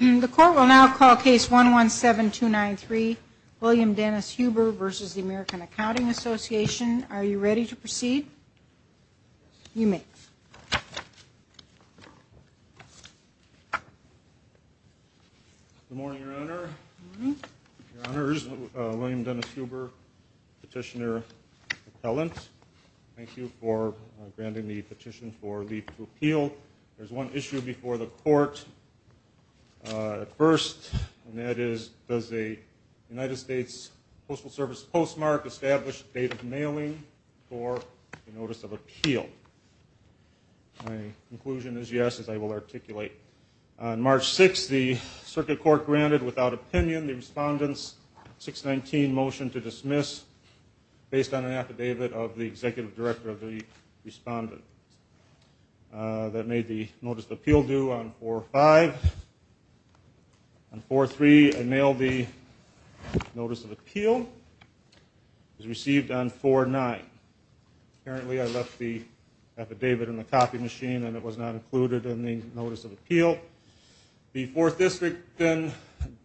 The court will now call case 117293, William Dennis Huber v. American Accounting Association. Are you ready to proceed? You may. Good morning, Your Honor. Your Honor, this is William Dennis Huber, Petitioner-Appellant. Thank you for granting me petition for leave to appeal. There is one issue before the court at first, and that is, does the United States Postal Service postmark established date of mailing for a notice of appeal? My conclusion is yes, as I will articulate. On March 6, the Circuit Court granted without opinion the Respondent's 619 motion to dismiss based on an affidavit of the Executive Director of the Respondent. That made the notice of appeal due on 4-5. On 4-3, I mailed the notice of appeal. It was received on 4-9. Apparently, I left the affidavit in the copy machine, and it was not included in the notice of appeal. The Fourth District then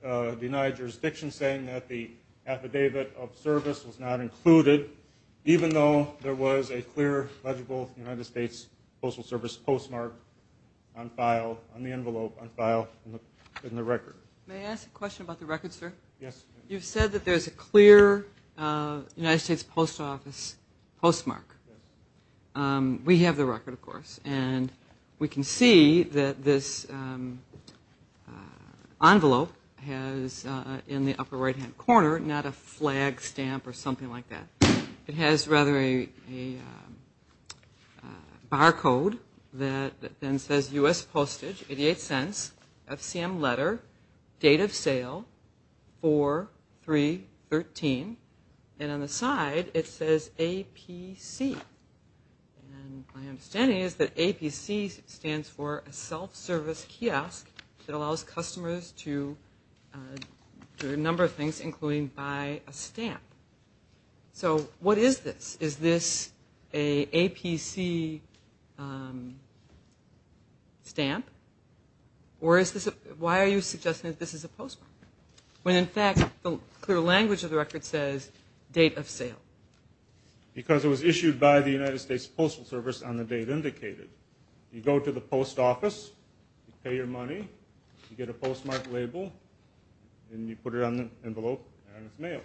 denied jurisdiction, saying that the affidavit of service was not included, even though there was a clear, legible United States Postal Service postmark on file, on the envelope, on file in the record. May I ask a question about the record, sir? Yes. You've said that there's a clear United States Postal Office postmark. We have the record, of course, and we can see that this envelope has, in the upper right-hand corner, not a flag stamp or something like that. It has rather a barcode that then says, U.S. postage, 88 cents, FCM letter, date of sale, 4-3-13. And on the side, it says APC. My understanding is that APC stands for a self-service kiosk that allows customers to do a number of things, including buy a stamp. So what is this? Is this an APC stamp? Why are you suggesting that this is a postmark? When, in fact, the clear language of the record says, date of sale. Because it was issued by the United States Postal Service on the date indicated. You go to the post office, you pay your money, you get a postmark label, and you put it on the envelope, and it's mailed.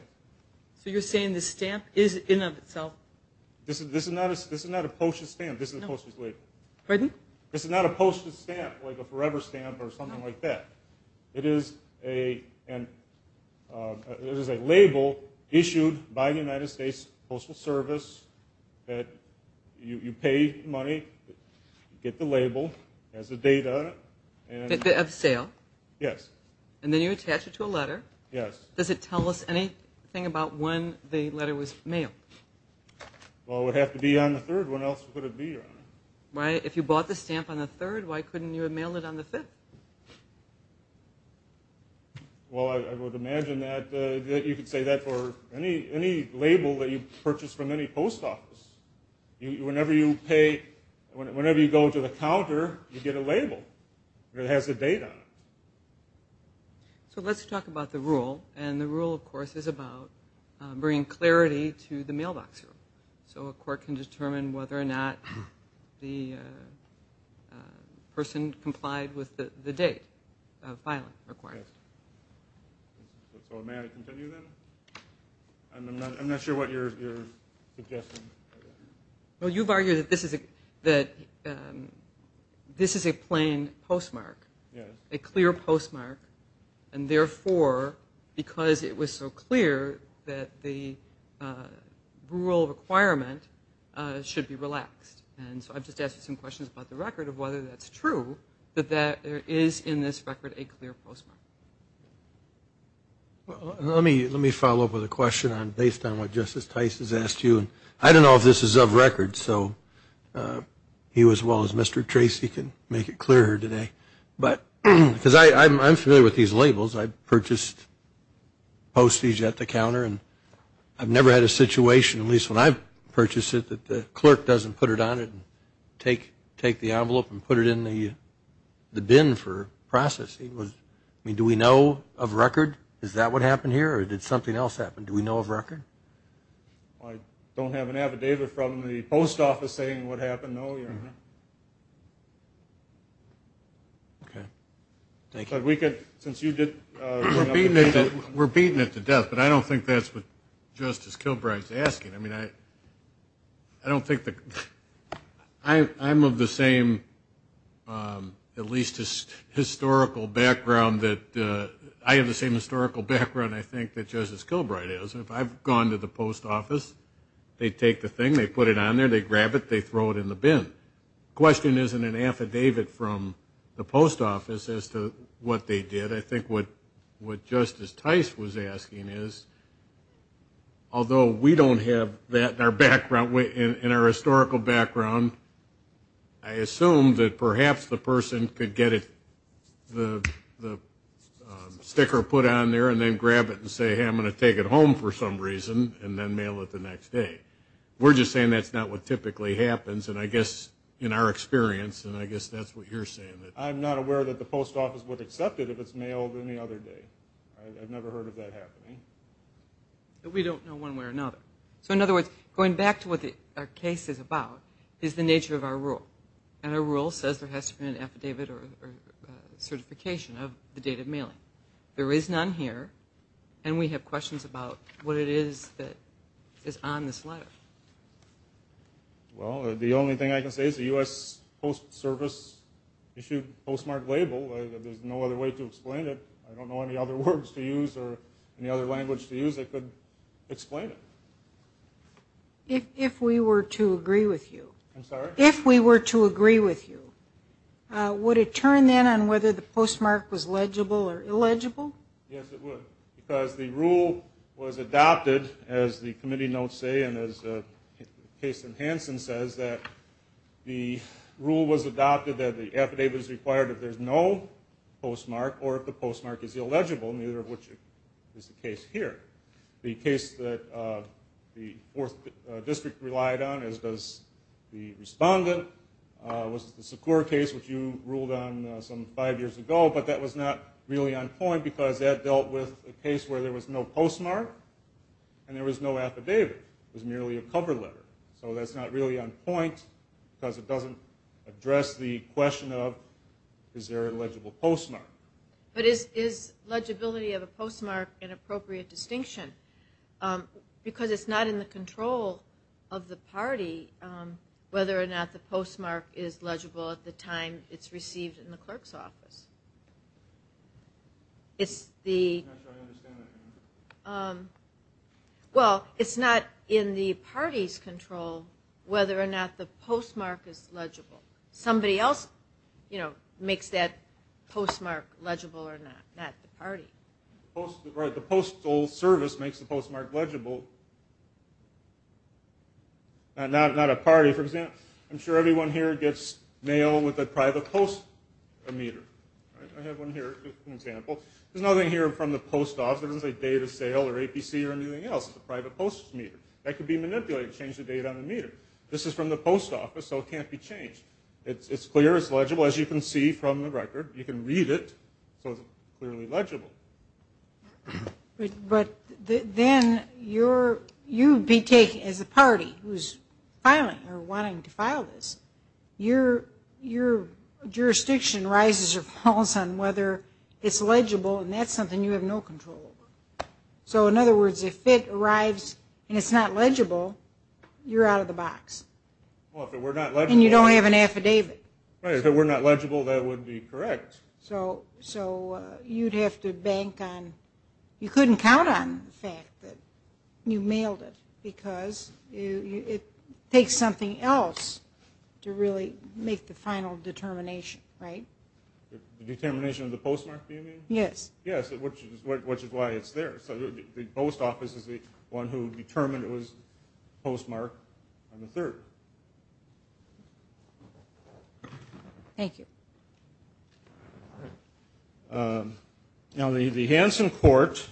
So you're saying the stamp is in of itself? This is not a postage stamp, like a forever stamp or something like that. It is a label issued by the United States Postal Service that you pay money, get the label, has the date on it. Date of sale? Yes. And then you attach it to a letter. Yes. Does it tell us anything about when the letter was mailed? Well, it would have to be on the third. What else would it be on? If you bought the stamp on the third, why couldn't you have mailed it on the fifth? Well, I would imagine that you could say that for any label that you purchase from any post office. Whenever you go to the counter, you get a label that has the date on it. So let's talk about the rule. And the rule, of course, is about bringing clarity to the mailbox. So a court can determine whether or not the person complied with the date of filing required. So may I continue then? I'm not sure what you're suggesting. Well, you've argued that this is a plain postmark, a clear postmark, and therefore, because it was so clear that the rule requirement should be relaxed. And so I've just asked you some questions about the record of whether that's true, that there is in this record a clear postmark. Well, let me follow up with a question based on what Justice Tice has asked you. I don't know if this is of record, so he as well as Mr. Tracy can make it clear today. Because I'm familiar with these labels. I've purchased postage at the counter. And I've never had a situation, at least when I've purchased it, that the clerk doesn't put it on it and take the envelope and put it in the bin for processing. I mean, do we know of record? Is that what happened here? Or did something else happen? Do we know of record? I don't have an affidavit from the post office saying what happened, no. Okay. Thank you. We're beating it to death, but I don't think that's what Justice Kilbright's asking. I mean, I don't think that... I'm of the same, at least historical background that... I have the same historical background, I think, that Justice Kilbright has. If I've gone to the post office, they take the thing, they put it on there, they grab it, they throw it in the bin. The question isn't an affidavit from the post office as to what they did. I think what Justice Tice was asking is, although we don't have that in our background, in our historical background, I assume that perhaps the person could get the sticker put on there and then grab it and say, hey, I'm going to take it home for some reason and then mail it the next day. We're just saying that's not what typically happens, and I guess in our experience, and I guess that's what you're saying. I'm not aware that the post office would accept it if it's mailed any other day. I've never heard of that happening. We don't know one way or another. So in other words, going back to what our case is about, is the nature of our rule. And our rule says there has to be an affidavit or certification of the date of mailing. There is none here, and we have questions about what it is that is on this letter. Well, the only thing I can say is the U.S. Post Service issued postmark label. There's no other way to explain it. I don't know any other words to use or any other language to use that could explain it. If we were to agree with you, would it turn then on whether the postmark was legible or illegible? Yes, it would, because the rule was adopted, as the committee notes say, and as Case and Hansen says, that the rule was adopted that the affidavit is required if there's no postmark or if the postmark is illegible, neither of which is the case here. The case that the 4th District relied on, as does the respondent, was the Secur case, which you ruled on some five years ago, but that was not really on point because that dealt with a case where there was no postmark and there was no affidavit. It was merely a cover letter. So that's not really on point because it doesn't address the question of is there a legible postmark. But is legibility of a postmark an appropriate distinction? Because it's not in the control of the party whether or not the postmark is legible at the time it's received in the clerk's office. Well, it's not in the party's control whether or not the postmark is legible. Nobody else makes that postmark legible or not. Not the party. The Postal Service makes the postmark legible. Not a party, for example. I'm sure everyone here gets mail with a private post meter. I have one here as an example. There's nothing here from the post office. It doesn't say date of sale or APC or anything else. It's a private post meter. That could be manipulated, change the date on the meter. This is from the post office, so it can't be changed. It's clear, it's legible, as you can see from the record. You can read it so it's clearly legible. But then you be taken as a party who's filing or wanting to file this. Your jurisdiction rises or falls on whether it's legible and that's something you have no control over. So in other words, if it arrives and it's not legible, you're out of the box. And you don't have an affidavit. So you'd have to bank on, you couldn't count on the fact that you mailed it. Because it takes something else to really make the final determination. Determination of the postmark, do you mean? Yes, which is why it's there. So the post office is the one who determined it was postmarked on the 3rd. Thank you. Now the Hanson Court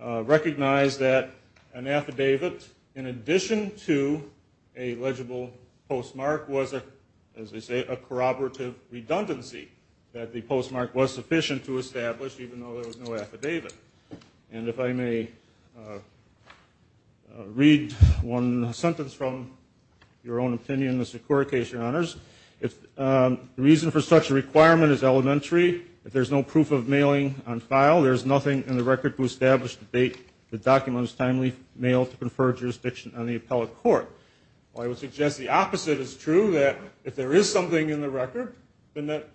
recognized that an affidavit in addition to a legible postmark was, as they say, a corroborative redundancy. That the postmark was sufficient to establish, even though there was no affidavit. And if I may read one sentence from your own opinion, Mr. Cura, in case you're honest. The reason for such a requirement is elementary. If there's no proof of mailing on file, there's nothing in the record to establish the date the document was timely mailed to confer jurisdiction on the appellate court. I would suggest the opposite is true, that if there is something in the record, then that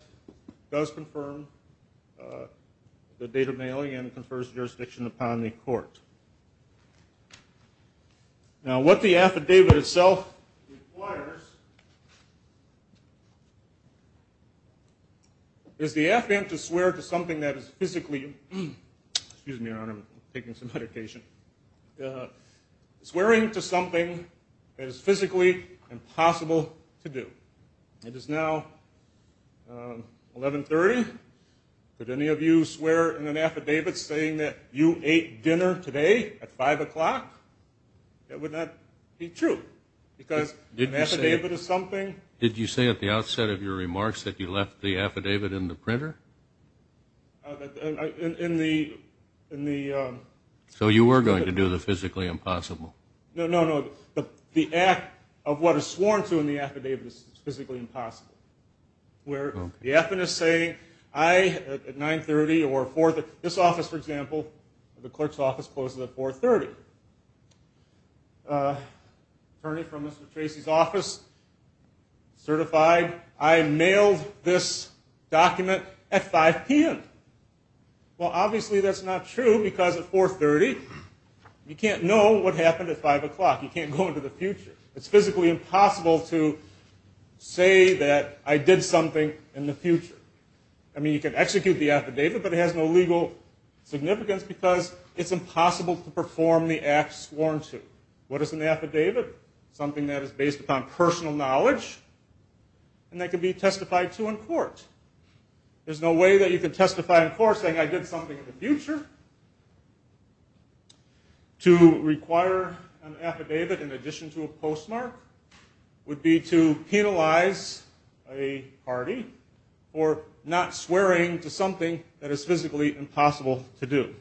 does confirm the date of mailing and confers jurisdiction upon the court. Now what the affidavit itself requires is the affidavit to swear to something that is physically, excuse me, Your Honor, I'm taking some medication, swearing to something that is physically impossible to do. It is now 1130. Could any of you swear in an affidavit saying that you ate dinner today at 5 o'clock? That would not be true. Because an affidavit is something... Did you say at the outset of your remarks that you left the affidavit in the printer? So you were going to do the physically impossible. No, no, no. The act of what is sworn to in the affidavit is physically impossible. Where the affidavit is saying I, at 930 or 4... This office, for example, the clerk's office closes at 430. Attorney from Mr. Tracy's office, certified, I mailed this document at 5 p.m. Well, obviously that's not true because at 430 you can't know what happened at 5 o'clock. You can't go into the future. It's physically impossible to say that I did something in the future. I mean, you can execute the affidavit, but it has no legal significance because it's impossible to perform the act sworn to. What is an affidavit? An affidavit is something that is based upon personal knowledge and that can be testified to in court. There's no way that you can testify in court saying I did something in the future. To require an affidavit in addition to a postmark would be to penalize a party for not swearing to something that is physically impossible to do.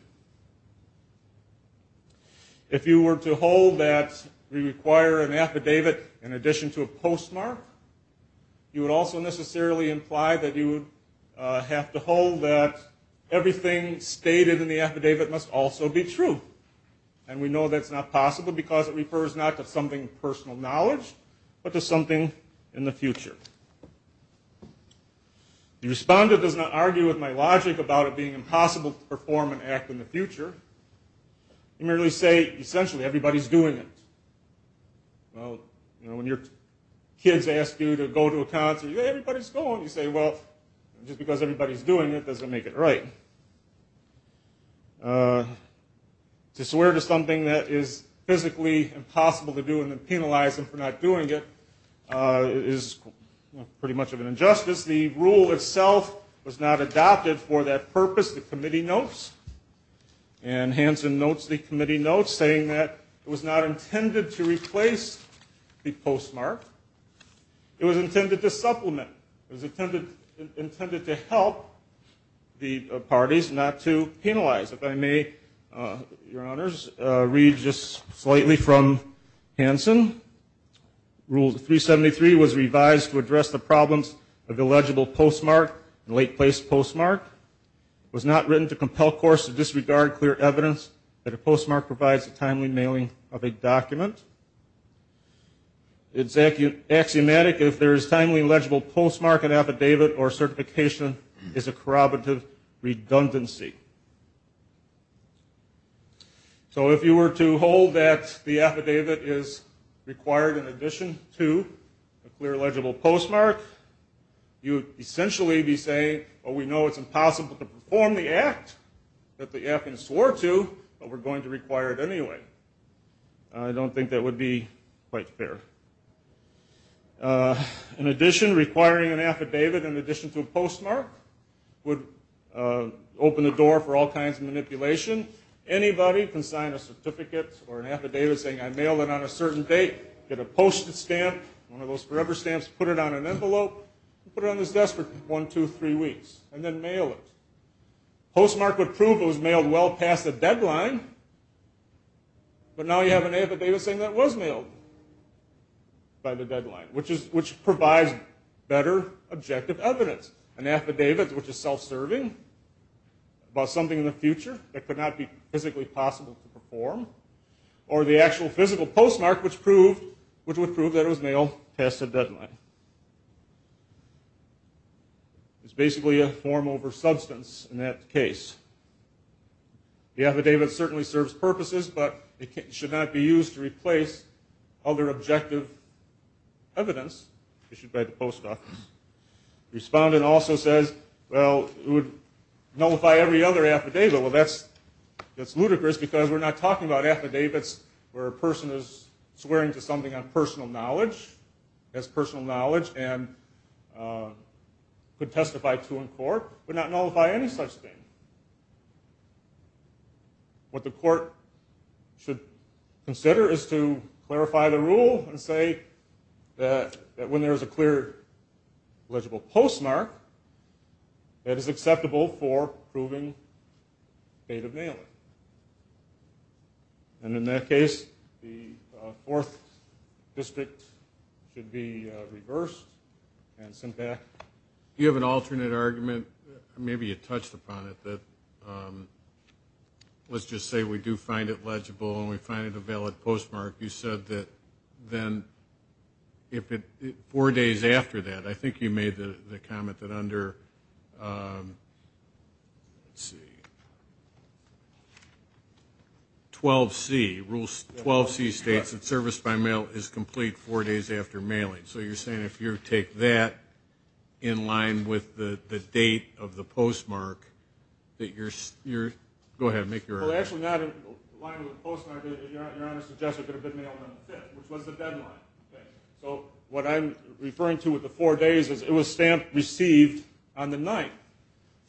If you were to hold that we require an affidavit in addition to a postmark, you would also necessarily imply that you would have to hold that everything stated in the affidavit must also be true. And we know that's not possible because it refers not to something of personal knowledge but to something in the future. The respondent does not argue with my logic about it being impossible to perform an act in the future. You merely say, essentially, everybody's doing it. When your kids ask you to go to a concert, you say, everybody's going. You say, well, just because everybody's doing it doesn't make it right. To swear to something that is physically impossible to do and then penalize them for not doing it is pretty much of an injustice. The rule itself was not adopted for that purpose. The committee notes, and Hanson notes the committee notes, saying that it was not intended to replace the postmark. It was intended to supplement. It was intended to help the parties not to penalize. If I may, Your Honors, read just slightly from Hanson. Rule 373 was revised to address the problems of illegible postmark and late place postmark. It was not written to compel courts to disregard clear evidence that a postmark provides a timely mailing of a document. It would be axiomatic if there is timely legible postmark and affidavit or certification is a corroborative redundancy. So if you were to hold that the affidavit is required in addition to a clear legible postmark, you would essentially be saying, well, we know it's impossible to perform the act that the applicant swore to, but we're going to require it anyway. In addition, requiring an affidavit in addition to a postmark would open the door for all kinds of manipulation. Anybody can sign a certificate or an affidavit saying I mailed it on a certain date, get a postage stamp, one of those forever stamps, put it on an envelope, put it on his desk for one, two, three weeks, and then mail it. Postmark would prove it was mailed well past the deadline, but now you have an affidavit saying that it was mailed by the deadline, which provides better objective evidence. An affidavit which is self-serving about something in the future that could not be physically possible to perform, or the actual physical postmark which would prove that it was mailed past the deadline. It's basically a form over substance in that case. The affidavit certainly serves purposes, but it should not be used to replace other objective evidence issued by the post office. Respondent also says, well, it would nullify every other affidavit. Well, that's ludicrous because we're not talking about affidavits where a person is swearing to something on personal knowledge, has personal knowledge, and could testify to in court. It would not nullify any such thing. What the court should consider is to clarify the rule and say that when there is a clear legible postmark, that is acceptable for proving fate of mailing. And in that case, the fourth district should be reversed and sent back. You have an alternate argument. Maybe you touched upon it. Let's just say we do find it legible and we find it a valid postmark. You said that then four days after that, I think you made the comment that under, let's see, 12C, Rule 12C states that service by mail is complete four days after mailing. So you're saying if you take that in line with the date of the postmark, that you're, go ahead, make your argument. Okay, so what I'm referring to with the four days is it was stamped received on the ninth.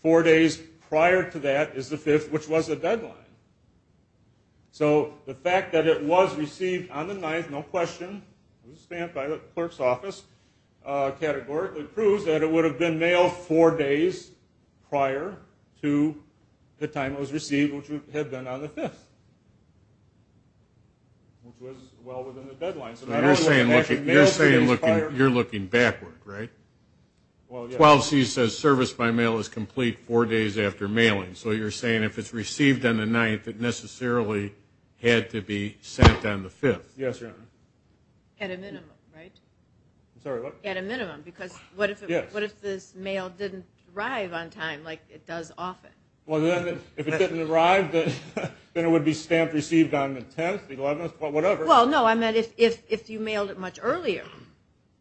Four days prior to that is the fifth, which was the deadline. So the fact that it was received on the ninth, no question, stamped by the clerk's office categorically proves that it would have been mailed four days prior to the time it was received, which would have been on the fifth, which was well within the deadline. You're looking backward, right? 12C says service by mail is complete four days after mailing. So you're saying if it's received on the ninth, it necessarily had to be sent on the fifth. Yes, Your Honor. At a minimum, because what if this mail didn't arrive on time like it does often? If it didn't arrive, then it would be stamped received on the 10th, the 11th, whatever. Well, no, I meant if you mailed it much earlier,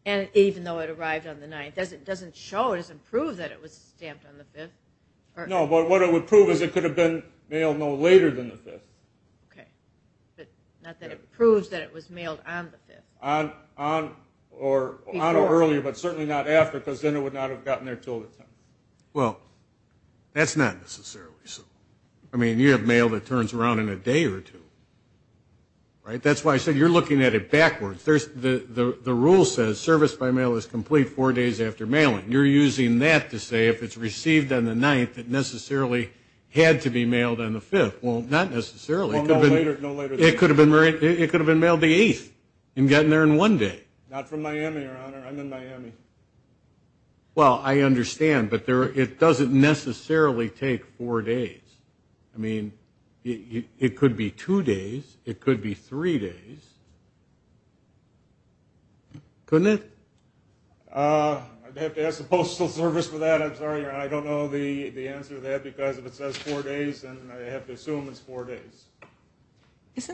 and even though it arrived on the ninth, it doesn't show, it doesn't prove that it was stamped on the fifth. No, but what it would prove is it could have been mailed no later than the fifth. Okay, but not that it proves that it was mailed on the fifth. On or earlier, but certainly not after, because then it would not have gotten there until the 10th. Well, that's not necessarily so. I mean, you have mail that turns around in a day or two, right? That's why I said you're looking at it backwards. The rule says service by mail is complete four days after mailing. You're using that to say if it's received on the ninth, it necessarily had to be mailed on the fifth. Well, not necessarily. It could have been mailed the eighth and gotten there in one day. Not from Miami, Your Honor. I'm in Miami. Well, I understand, but it doesn't necessarily take four days. I mean, it could be two days. It could be three days. Couldn't it? I'd have to ask the Postal Service for that. I'm sorry, Your Honor. I don't know the answer to that, because if it says four days, then I have to assume it's four days.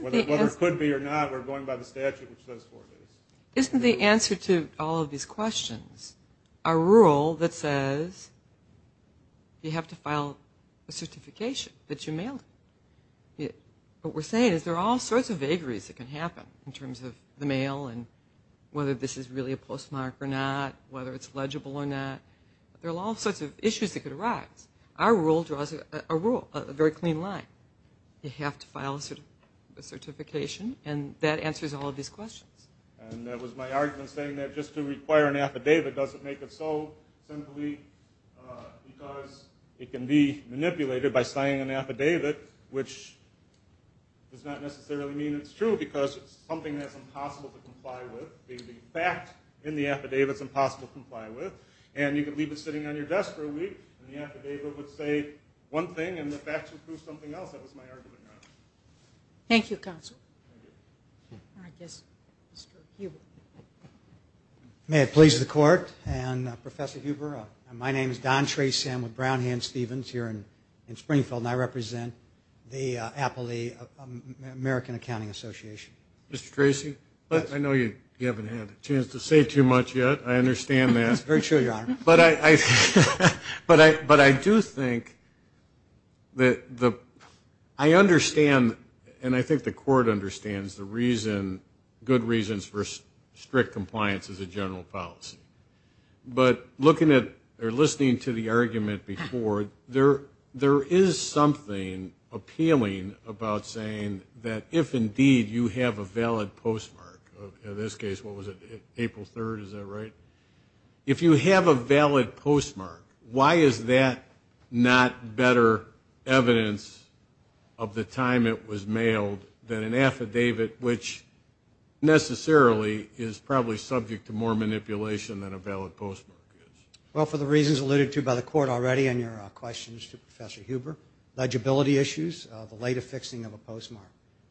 Whether it could be or not, we're going by the statute which says four days. Isn't the answer to all of these questions a rule that says you have to file a certification that you mail it? What we're saying is there are all sorts of vagaries that can happen in terms of the mail and whether this is really a postmark or not, whether it's legible or not. There are all sorts of issues that could arise. Our rule draws a very clean line. You have to file a certification, and that answers all of these questions. And that was my argument, saying that just to require an affidavit doesn't make it so, simply because it can be manipulated by signing an affidavit, which does not necessarily mean it's true, because it's something that's impossible to comply with. The fact in the affidavit is impossible to comply with, and you could leave it sitting on your desk for a week, and the affidavit would say one thing, and the facts would prove something else. That was my argument, Your Honor. Thank you, Counsel. May it please the Court, and Professor Huber, my name is Don Trey Sam with Brown Hand Stevens here in Springfield, and I represent the Appley American Accounting Association. Mr. Tracy, I know you haven't had a chance to say too much yet. I understand that. That's very true, Your Honor. But I do think that I understand, and I think the Court understands the reason, good reasons for strict compliance as a general policy. But looking at, or listening to the argument before, there is something appealing about saying that if indeed you have a valid postmark, in this case, what was it, April 3rd, is that right? If you have a valid postmark, why is that not better evidence of the time it was mailed than an affidavit, which necessarily is probably subject to more manipulation than a valid postmark is? Well, for the reasons alluded to by the Court already in your questions to Professor Huber, legibility issues, the later fixing of a postmark,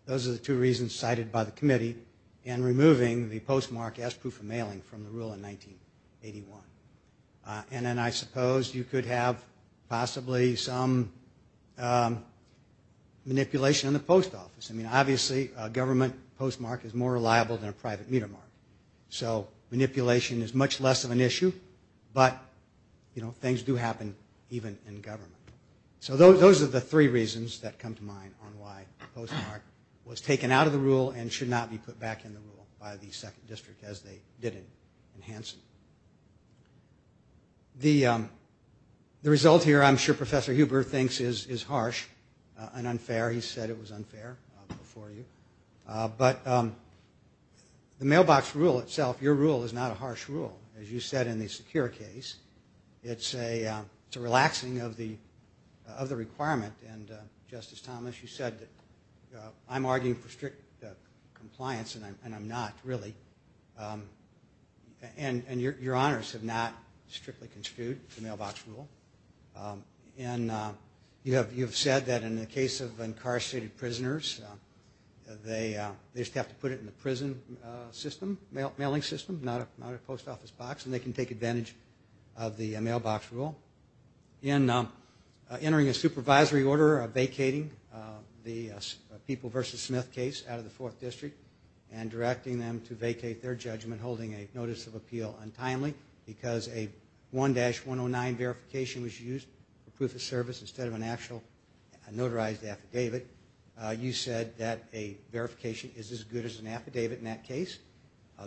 those are the two reasons cited by the committee in removing the postmark as proof of mailing from the rule in 1981. And then I suppose you could have possibly some manipulation in the post office. I mean, obviously, a government postmark is more reliable than a private meter mark. So manipulation is much less of an issue, but, you know, things do happen even in government. So those are the three reasons that come to mind on why the postmark was taken out of the rule and should not be put back in the rule by the 2nd District, as they did in Hansen. The result here, I'm sure Professor Huber thinks is harsh and unfair. He said it was unfair before you. But the mailbox rule itself, your rule, is not a harsh rule, as you said in the secure case. It's a relaxing of the requirement. And, Justice Thomas, you said that I'm arguing for strict compliance, and I'm not, really. And your honors have not strictly construed the mailbox rule. And you have said that in the case of incarcerated prisoners, they just have to put it in the prison system, mailing system, not a post office box, and they can take advantage of the mailbox rule. In entering a supervisory order vacating the People v. Smith case out of the 4th District and directing them to vacate their judgment holding a notice of appeal untimely, because a 1-109 verification was used for proof of service instead of an actual notarized affidavit, you said that a verification is as good as an affidavit in that case.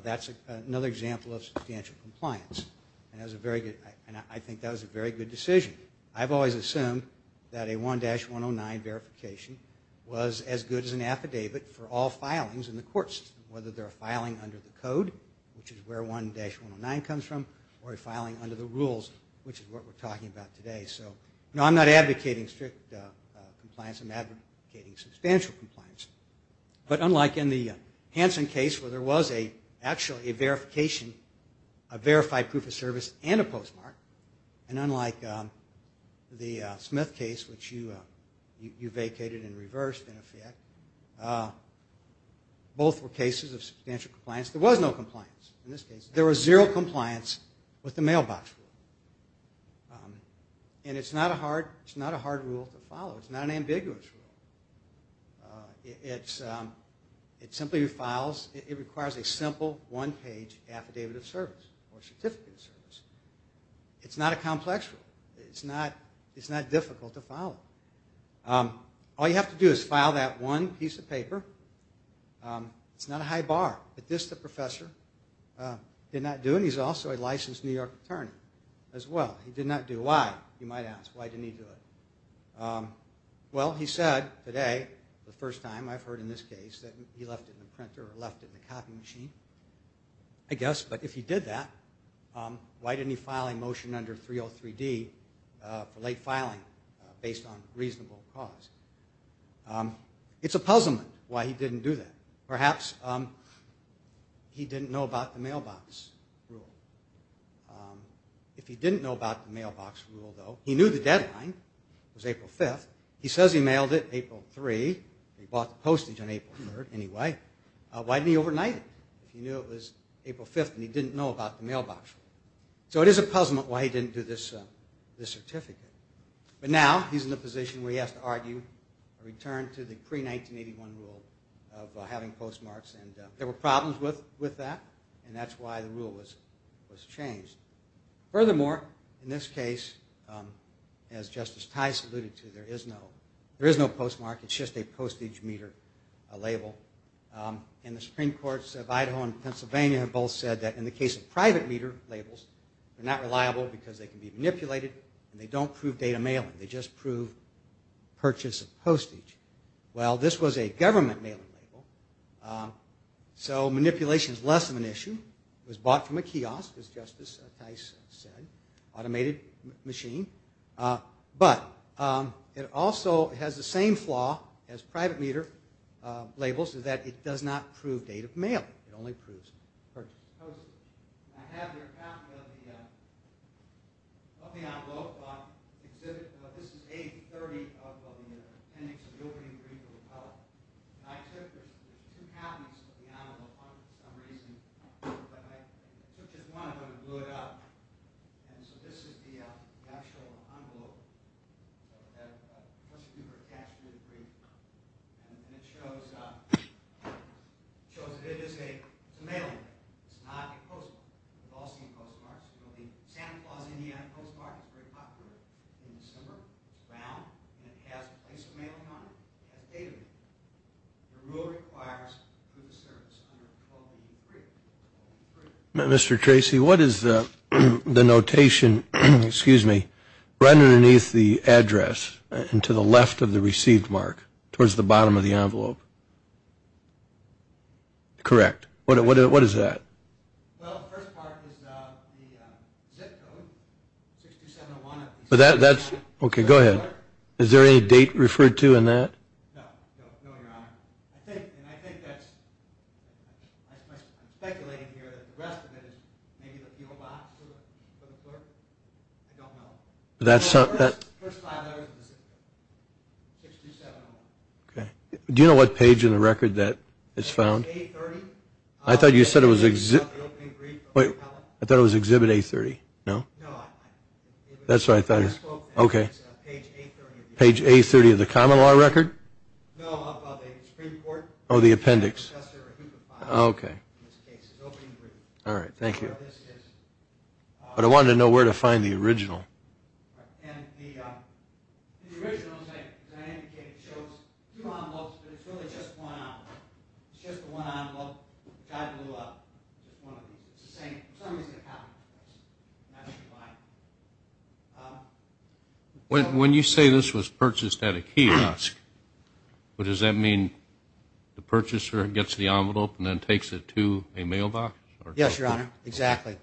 That's another example of substantial compliance. And I think that was a very good decision. I've always assumed that a 1-109 verification was as good as an affidavit for all filings in the courts, whether they're a filing under the code, which is where 1-109 comes from, or a filing under the rules, which is what we're talking about today. So, no, I'm not advocating strict compliance. I'm advocating substantial compliance. But unlike in the Hansen case where there was actually a verification, a verified proof of service, and a postmark, and unlike the Smith case, which you vacated and reversed, in effect, both were cases of substantial compliance. There was no compliance in this case. There was zero compliance with the mailbox rule. And it's not a hard rule to follow. It's not an ambiguous rule. It requires a simple one-page affidavit of service or certificate of service. It's not a complex rule. It's not difficult to follow. All you have to do is file that one piece of paper. It's not a high bar. But this, the professor, did not do. And he's also a licensed New York attorney as well. He did not do. Why, you might ask. Why didn't he do it? Well, he said today, the first time I've heard in this case, that he left it in the printer or left it in the copy machine, I guess. But if he did that, why didn't he file a motion under 303D for late filing based on reasonable cause? It's a puzzlement why he didn't do that. Perhaps he didn't know about the mailbox rule. If he didn't know about the mailbox rule, though, he knew the deadline was April 5th. He says he mailed it April 3rd. He bought the postage on April 3rd, anyway. Why didn't he overnight it? He knew it was April 5th, and he didn't know about the mailbox rule. So it is a puzzlement why he didn't do this certificate. But now he's in a position where he has to argue a return to the pre-1981 rule of having postmarks. There were problems with that, and that's why the rule was changed. Furthermore, in this case, as Justice Tice alluded to, there is no postmark. It's just a postage meter label. And the Supreme Courts of Idaho and Pennsylvania have both said that in the case of private meter labels, they're not reliable because they can be manipulated, and they don't prove data mailing. They just prove purchase of postage. Well, this was a government mailing label, so manipulation is less of an issue. It was bought from a kiosk, as Justice Tice said, automated machine. But it also has the same flaw as private meter labels, is that it does not prove date of mailing. It only proves purchase of postage. I have here a copy of the envelope. This is page 30 of the appendix of the opening brief of the file. I took two copies of the envelope for some reason, but I took just one of them and blew it up. And so this is the actual envelope that the prosecutor attached to the brief. And it shows that it is a mailing label. It's not a postmark. It's a Boston postmark. The Santa Claus Indiana postmark is very popular in December. It's round, and it has the place of mailing on it. It has a date on it. The rule requires proof of service under the closing brief. Mr. Tracy, what is the notation, excuse me, right underneath the address and to the left of the received mark, towards the bottom of the envelope? Correct. What is that? Well, the first part is the zip code, 6271. Okay, go ahead. Is there any date referred to in that? No, Your Honor. I'm speculating here that the rest of it is maybe the fuel box for the clerk. I don't know. The first five letters of the zip code, 6271. Okay. Do you know what page in the record that it's found? A30. I thought you said it was exhibit. I thought it was exhibit A30, no? No. That's what I thought. Page A30. Page A30 of the common law record? No, of the Supreme Court. Oh, the appendix. Yes, sir. Okay. All right. Thank you. But I wanted to know where to find the original. And the original, as I indicated, shows two envelopes, but it's really just one envelope. It's just a one envelope. God blew up. It's the same. Okay. When you say this was purchased at a kiosk, does that mean the purchaser gets the envelope and then takes it to a mailbox? Yes, Your Honor. Exactly.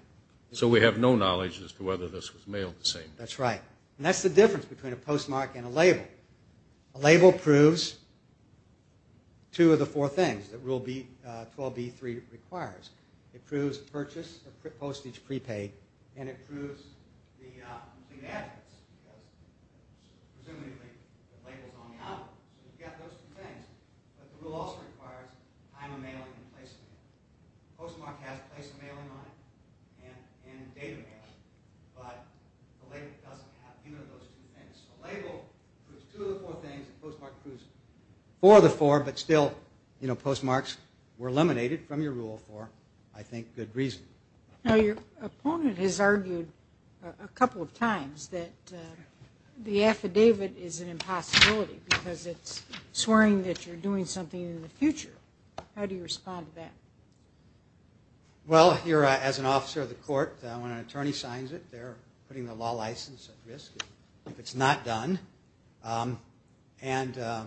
So we have no knowledge as to whether this was mailed the same. That's right. And that's the difference between a postmark and a label. A label proves two of the four things that Rule 12b3 requires. It proves purchase of postage prepaid, and it proves the complete address, because presumably the label's on the envelope. So we've got those two things. But the rule also requires time of mailing and place of mailing. Postmark has place of mailing on it and date of mailing, but the label doesn't have either of those two things. So label proves two of the four things, and postmark proves four of the four, but still postmarks were eliminated from your rule for, I think, good reason. Now your opponent has argued a couple of times that the affidavit is an impossibility because it's swearing that you're doing something in the future. How do you respond to that? Well, as an officer of the court, when an attorney signs it, they're putting the law license at risk if it's not done. And a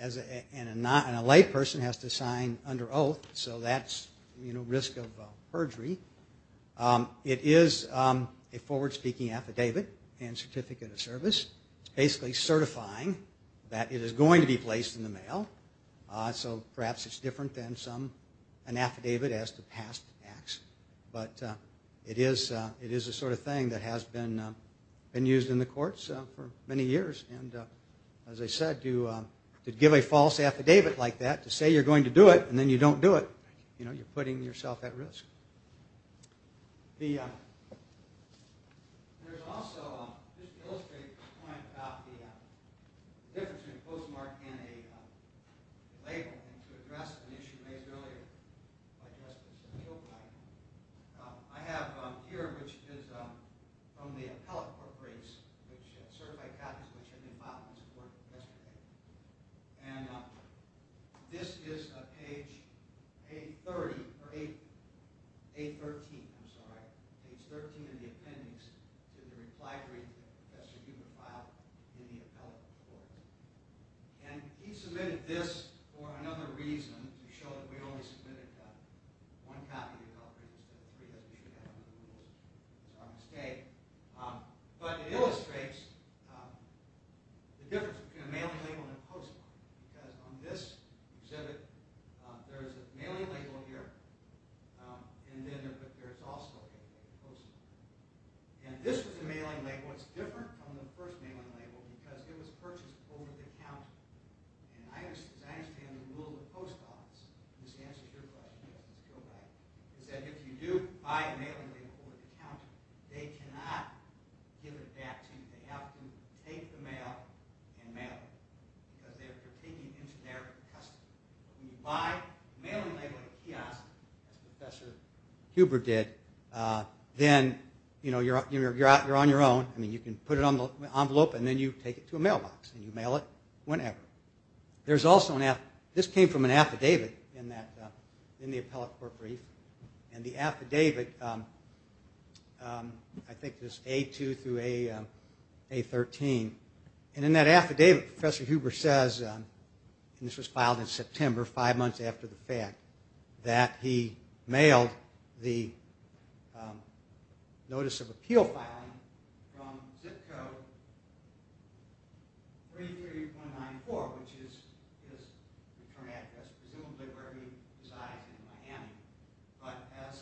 layperson has to sign under oath, so that's risk of perjury. It is a forward-speaking affidavit and certificate of service. It's basically certifying that it is going to be placed in the mail. So perhaps it's different than an affidavit as to past acts, but it is the sort of thing that has been used in the courts for many years. And as I said, to give a false affidavit like that, to say you're going to do it and then you don't do it, you're putting yourself at risk. There's also, just to illustrate the point about the difference between a postmark and a label, and to address an issue raised earlier, I have here, which is from the Appellate Corporation, which certified copies which had been filed in support yesterday. And this is page 13 in the appendix to the reply brief that Professor Huber filed in the Appellate Corporation. And he submitted this for another reason, to show that we only submitted one copy of the appellate brief, which is a mistake. But it illustrates the difference between a mailing label and a postmark. Because on this exhibit, there's a mailing label here, and then there's also a postmark. And this was a mailing label. It's different from the first mailing label because it was purchased over the counter. And as I understand the rule of the post office, and this answers your question, is that if you do buy a mailing label over the counter, they cannot give it back to you. They have to take the mail and mail it. Because they're taking it into their custody. When you buy a mailing label at a kiosk, as Professor Huber did, then you're on your own. I mean, you can put it on the envelope, and then you take it to a mailbox, and you mail it whenever. This came from an affidavit in the appellate court brief. And the affidavit, I think it was A2 through A13. And in that affidavit, Professor Huber says, and this was filed in September, five months after the fact, that he mailed the Notice of Appeal filing from ZIP Code 33.94, which is his return address, presumably where he resides in Miami. But as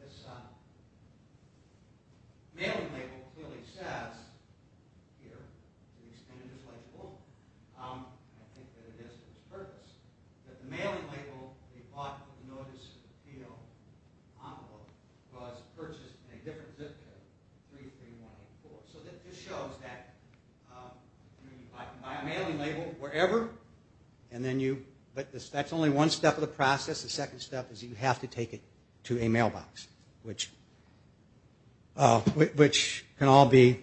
this mailing label clearly says here, the extended displacement, I think that it is his purpose, that the mailing label he bought with the Notice of Appeal envelope was purchased in a different ZIP Code, 33.94. So this shows that you can buy a mailing label wherever, but that's only one step of the process. The second step is you have to take it to a mailbox, which can all be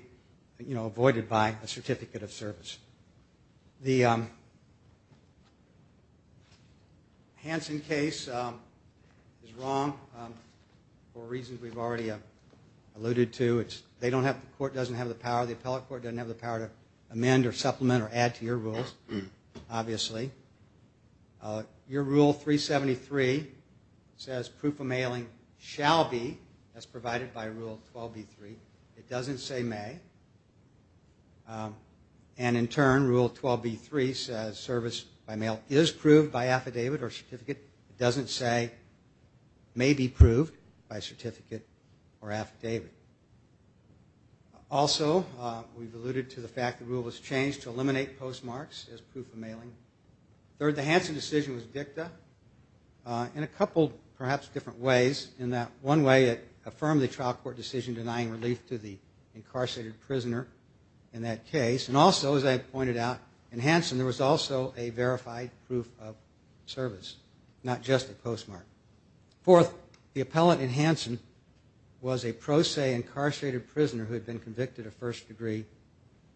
avoided by a certificate of service. The Hansen case is wrong for reasons we've already alluded to. They don't have, the court doesn't have the power, the appellate court doesn't have the power to amend or supplement or add to your rules, obviously. Your Rule 373 says proof of mailing shall be, as provided by Rule 12.B.3. It doesn't say may. And in turn, Rule 12.B.3 says service by mail is proved by affidavit or certificate. It doesn't say may be proved by certificate or affidavit. Also, we've alluded to the fact the rule was changed to eliminate postmarks as proof of mailing. Third, the Hansen decision was dicta in a couple perhaps different ways, in that one way it affirmed the trial court decision denying relief to the incarcerated prisoner in that case. And also, as I pointed out, in Hansen there was also a verified proof of service, not just a postmark. Fourth, the appellant in Hansen was a pro se incarcerated prisoner who had been convicted of first degree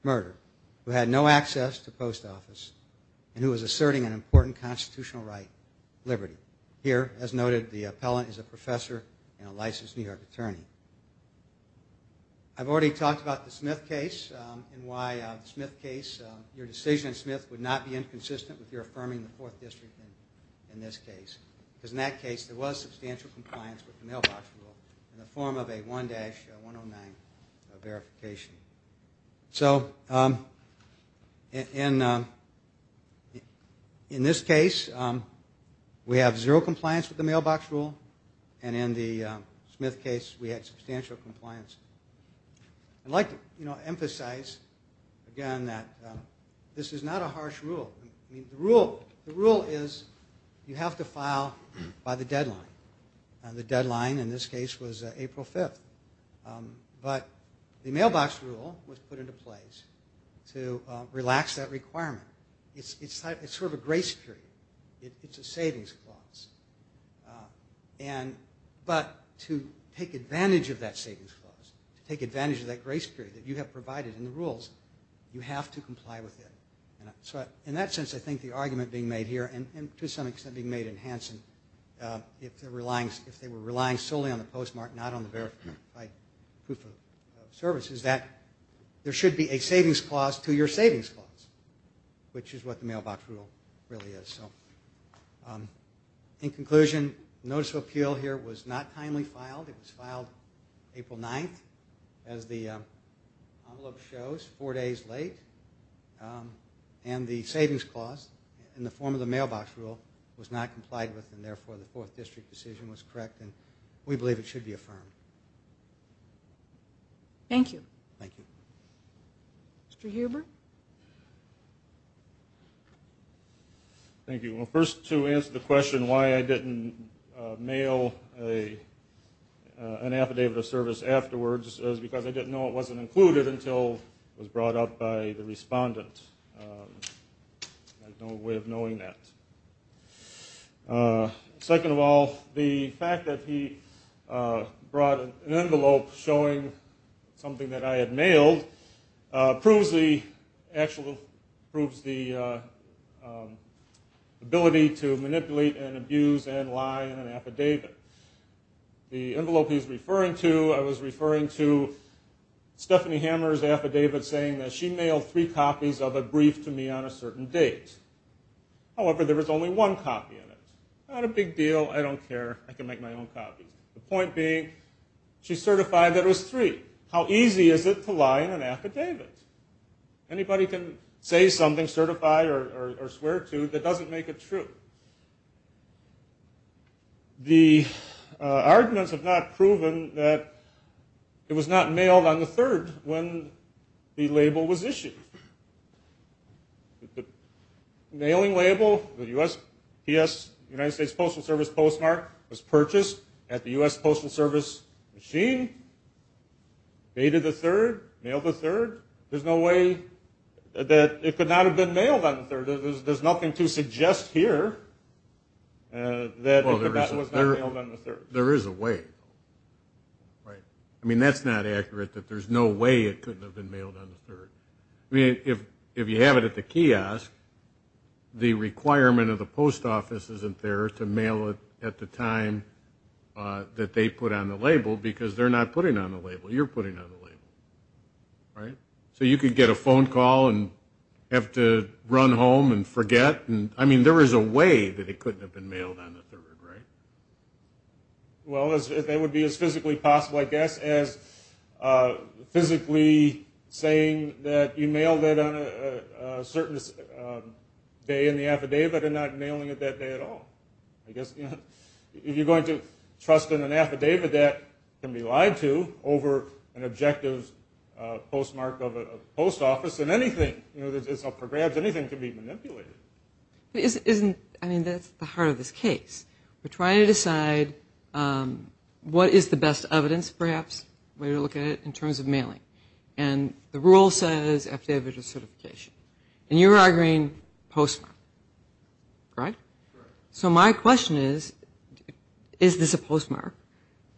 murder, who had no access to post office, and who was asserting an important constitutional right, liberty. Here, as noted, the appellant is a professor and a licensed New York attorney. I've already talked about the Smith case and why the Smith case, your decision in Smith, would not be inconsistent with your affirming the Fourth District in this case. Because in that case there was substantial compliance with the mailbox rule in the form of a 1-109 verification. So in this case we have zero compliance with the mailbox rule, and in the Smith case we had substantial compliance. I'd like to emphasize again that this is not a harsh rule. The rule is you have to file by the deadline, and the deadline in this case was April 5th. But the mailbox rule was put into place to relax that requirement. It's sort of a grace period. It's a savings clause. But to take advantage of that savings clause, to take advantage of that grace period that you have provided in the rules, you have to comply with it. In that sense, I think the argument being made here, and to some extent being made in Hansen, if they were relying solely on the postmark, not on the verified proof of service, is that there should be a savings clause to your savings clause, which is what the mailbox rule really is. In conclusion, notice of appeal here was not timely filed. It was filed April 9th, as the envelope shows, four days late. And the savings clause in the form of the mailbox rule was not complied with, and therefore the 4th District decision was correct, and we believe it should be affirmed. Thank you. Thank you. Mr. Huber? Thank you. Well, first, to answer the question why I didn't mail an affidavit of service afterwards, it was because I didn't know it wasn't included until it was brought up by the respondent. I had no way of knowing that. Second of all, the fact that he brought an envelope showing something that I had mailed proves the ability to manipulate and abuse and lie in an affidavit. The envelope he's referring to, I was referring to Stephanie Hammer's affidavit saying that she mailed three copies of a brief to me on a certain date. However, there was only one copy in it. Not a big deal. I don't care. I can make my own copies. The point being, she certified that it was three. How easy is it to lie in an affidavit? Anybody can say something, certify or swear to, that doesn't make it true. The arguments have not proven that it was not mailed on the 3rd when the label was issued. The mailing label, the USPS, United States Postal Service postmark, was purchased at the US Postal Service machine, dated the 3rd, mailed the 3rd. There's no way that it could not have been mailed on the 3rd. There's nothing to suggest here that it was not mailed on the 3rd. There is a way. Right. I mean, that's not accurate, that there's no way it couldn't have been mailed on the 3rd. I mean, if you have it at the kiosk, the requirement of the post office isn't there to mail it at the time that they put on the label, because they're not putting on the label. You're putting on the label. Right? So you could get a phone call and have to run home and forget. I mean, there is a way that it couldn't have been mailed on the 3rd, right? Well, that would be as physically possible, I guess, as physically saying that you mailed it on a certain day in the affidavit and not mailing it that day at all. I guess if you're going to trust in an affidavit that can be lied to over an objective postmark of a post office, then anything that's up for grabs, anything can be manipulated. I mean, that's the heart of this case. We're trying to decide what is the best evidence, perhaps, way to look at it, in terms of mailing. And the rule says affidavit of certification. And you're arguing postmark. Right? So my question is, is this a postmark?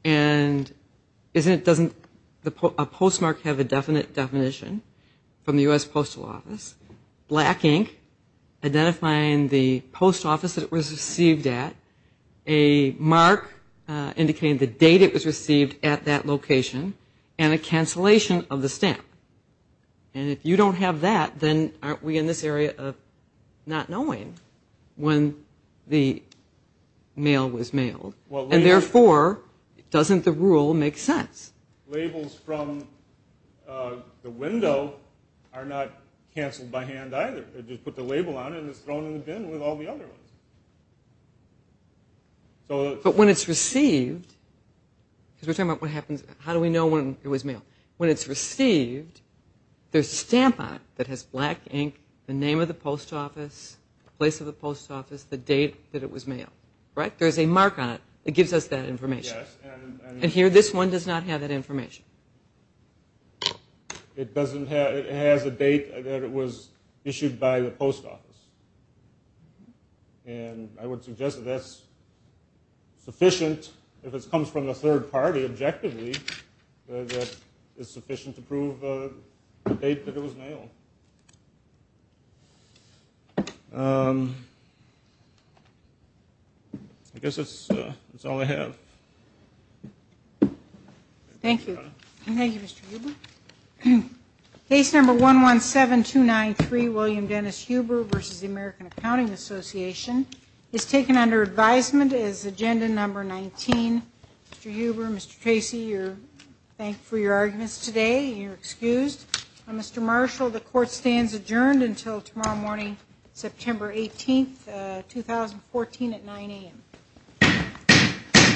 And doesn't a postmark have a definite definition from the U.S. Postal Office? Black ink identifying the post office that it was received at, a mark indicating the date it was received at that location, and a cancellation of the stamp. And if you don't have that, then aren't we in this area of not knowing when the mail was mailed? And, therefore, doesn't the rule make sense? Labels from the window are not canceled by hand either. They just put the label on it, and it's thrown in the bin with all the other ones. But when it's received, because we're talking about what happens, how do we know when it was mailed? When it's received, there's a stamp on it that has black ink, the name of the post office, the place of the post office, the date that it was mailed. Right? There's a mark on it that gives us that information. And here, this one does not have that information. It has a date that it was issued by the post office. And I would suggest that that's sufficient, if it comes from a third party, objectively, that it's sufficient to prove the date that it was mailed. I guess that's all I have. Thank you. Thank you, Mr. Huber. Case number 117293, William Dennis Huber v. The American Accounting Association, is taken under advisement as agenda number 19. Mr. Huber, Mr. Tracy, you're thanked for your arguments today. You're excused. Mr. Marshall, the court stands adjourned until tomorrow morning, September 18, 2014, at 9 a.m. Thank you.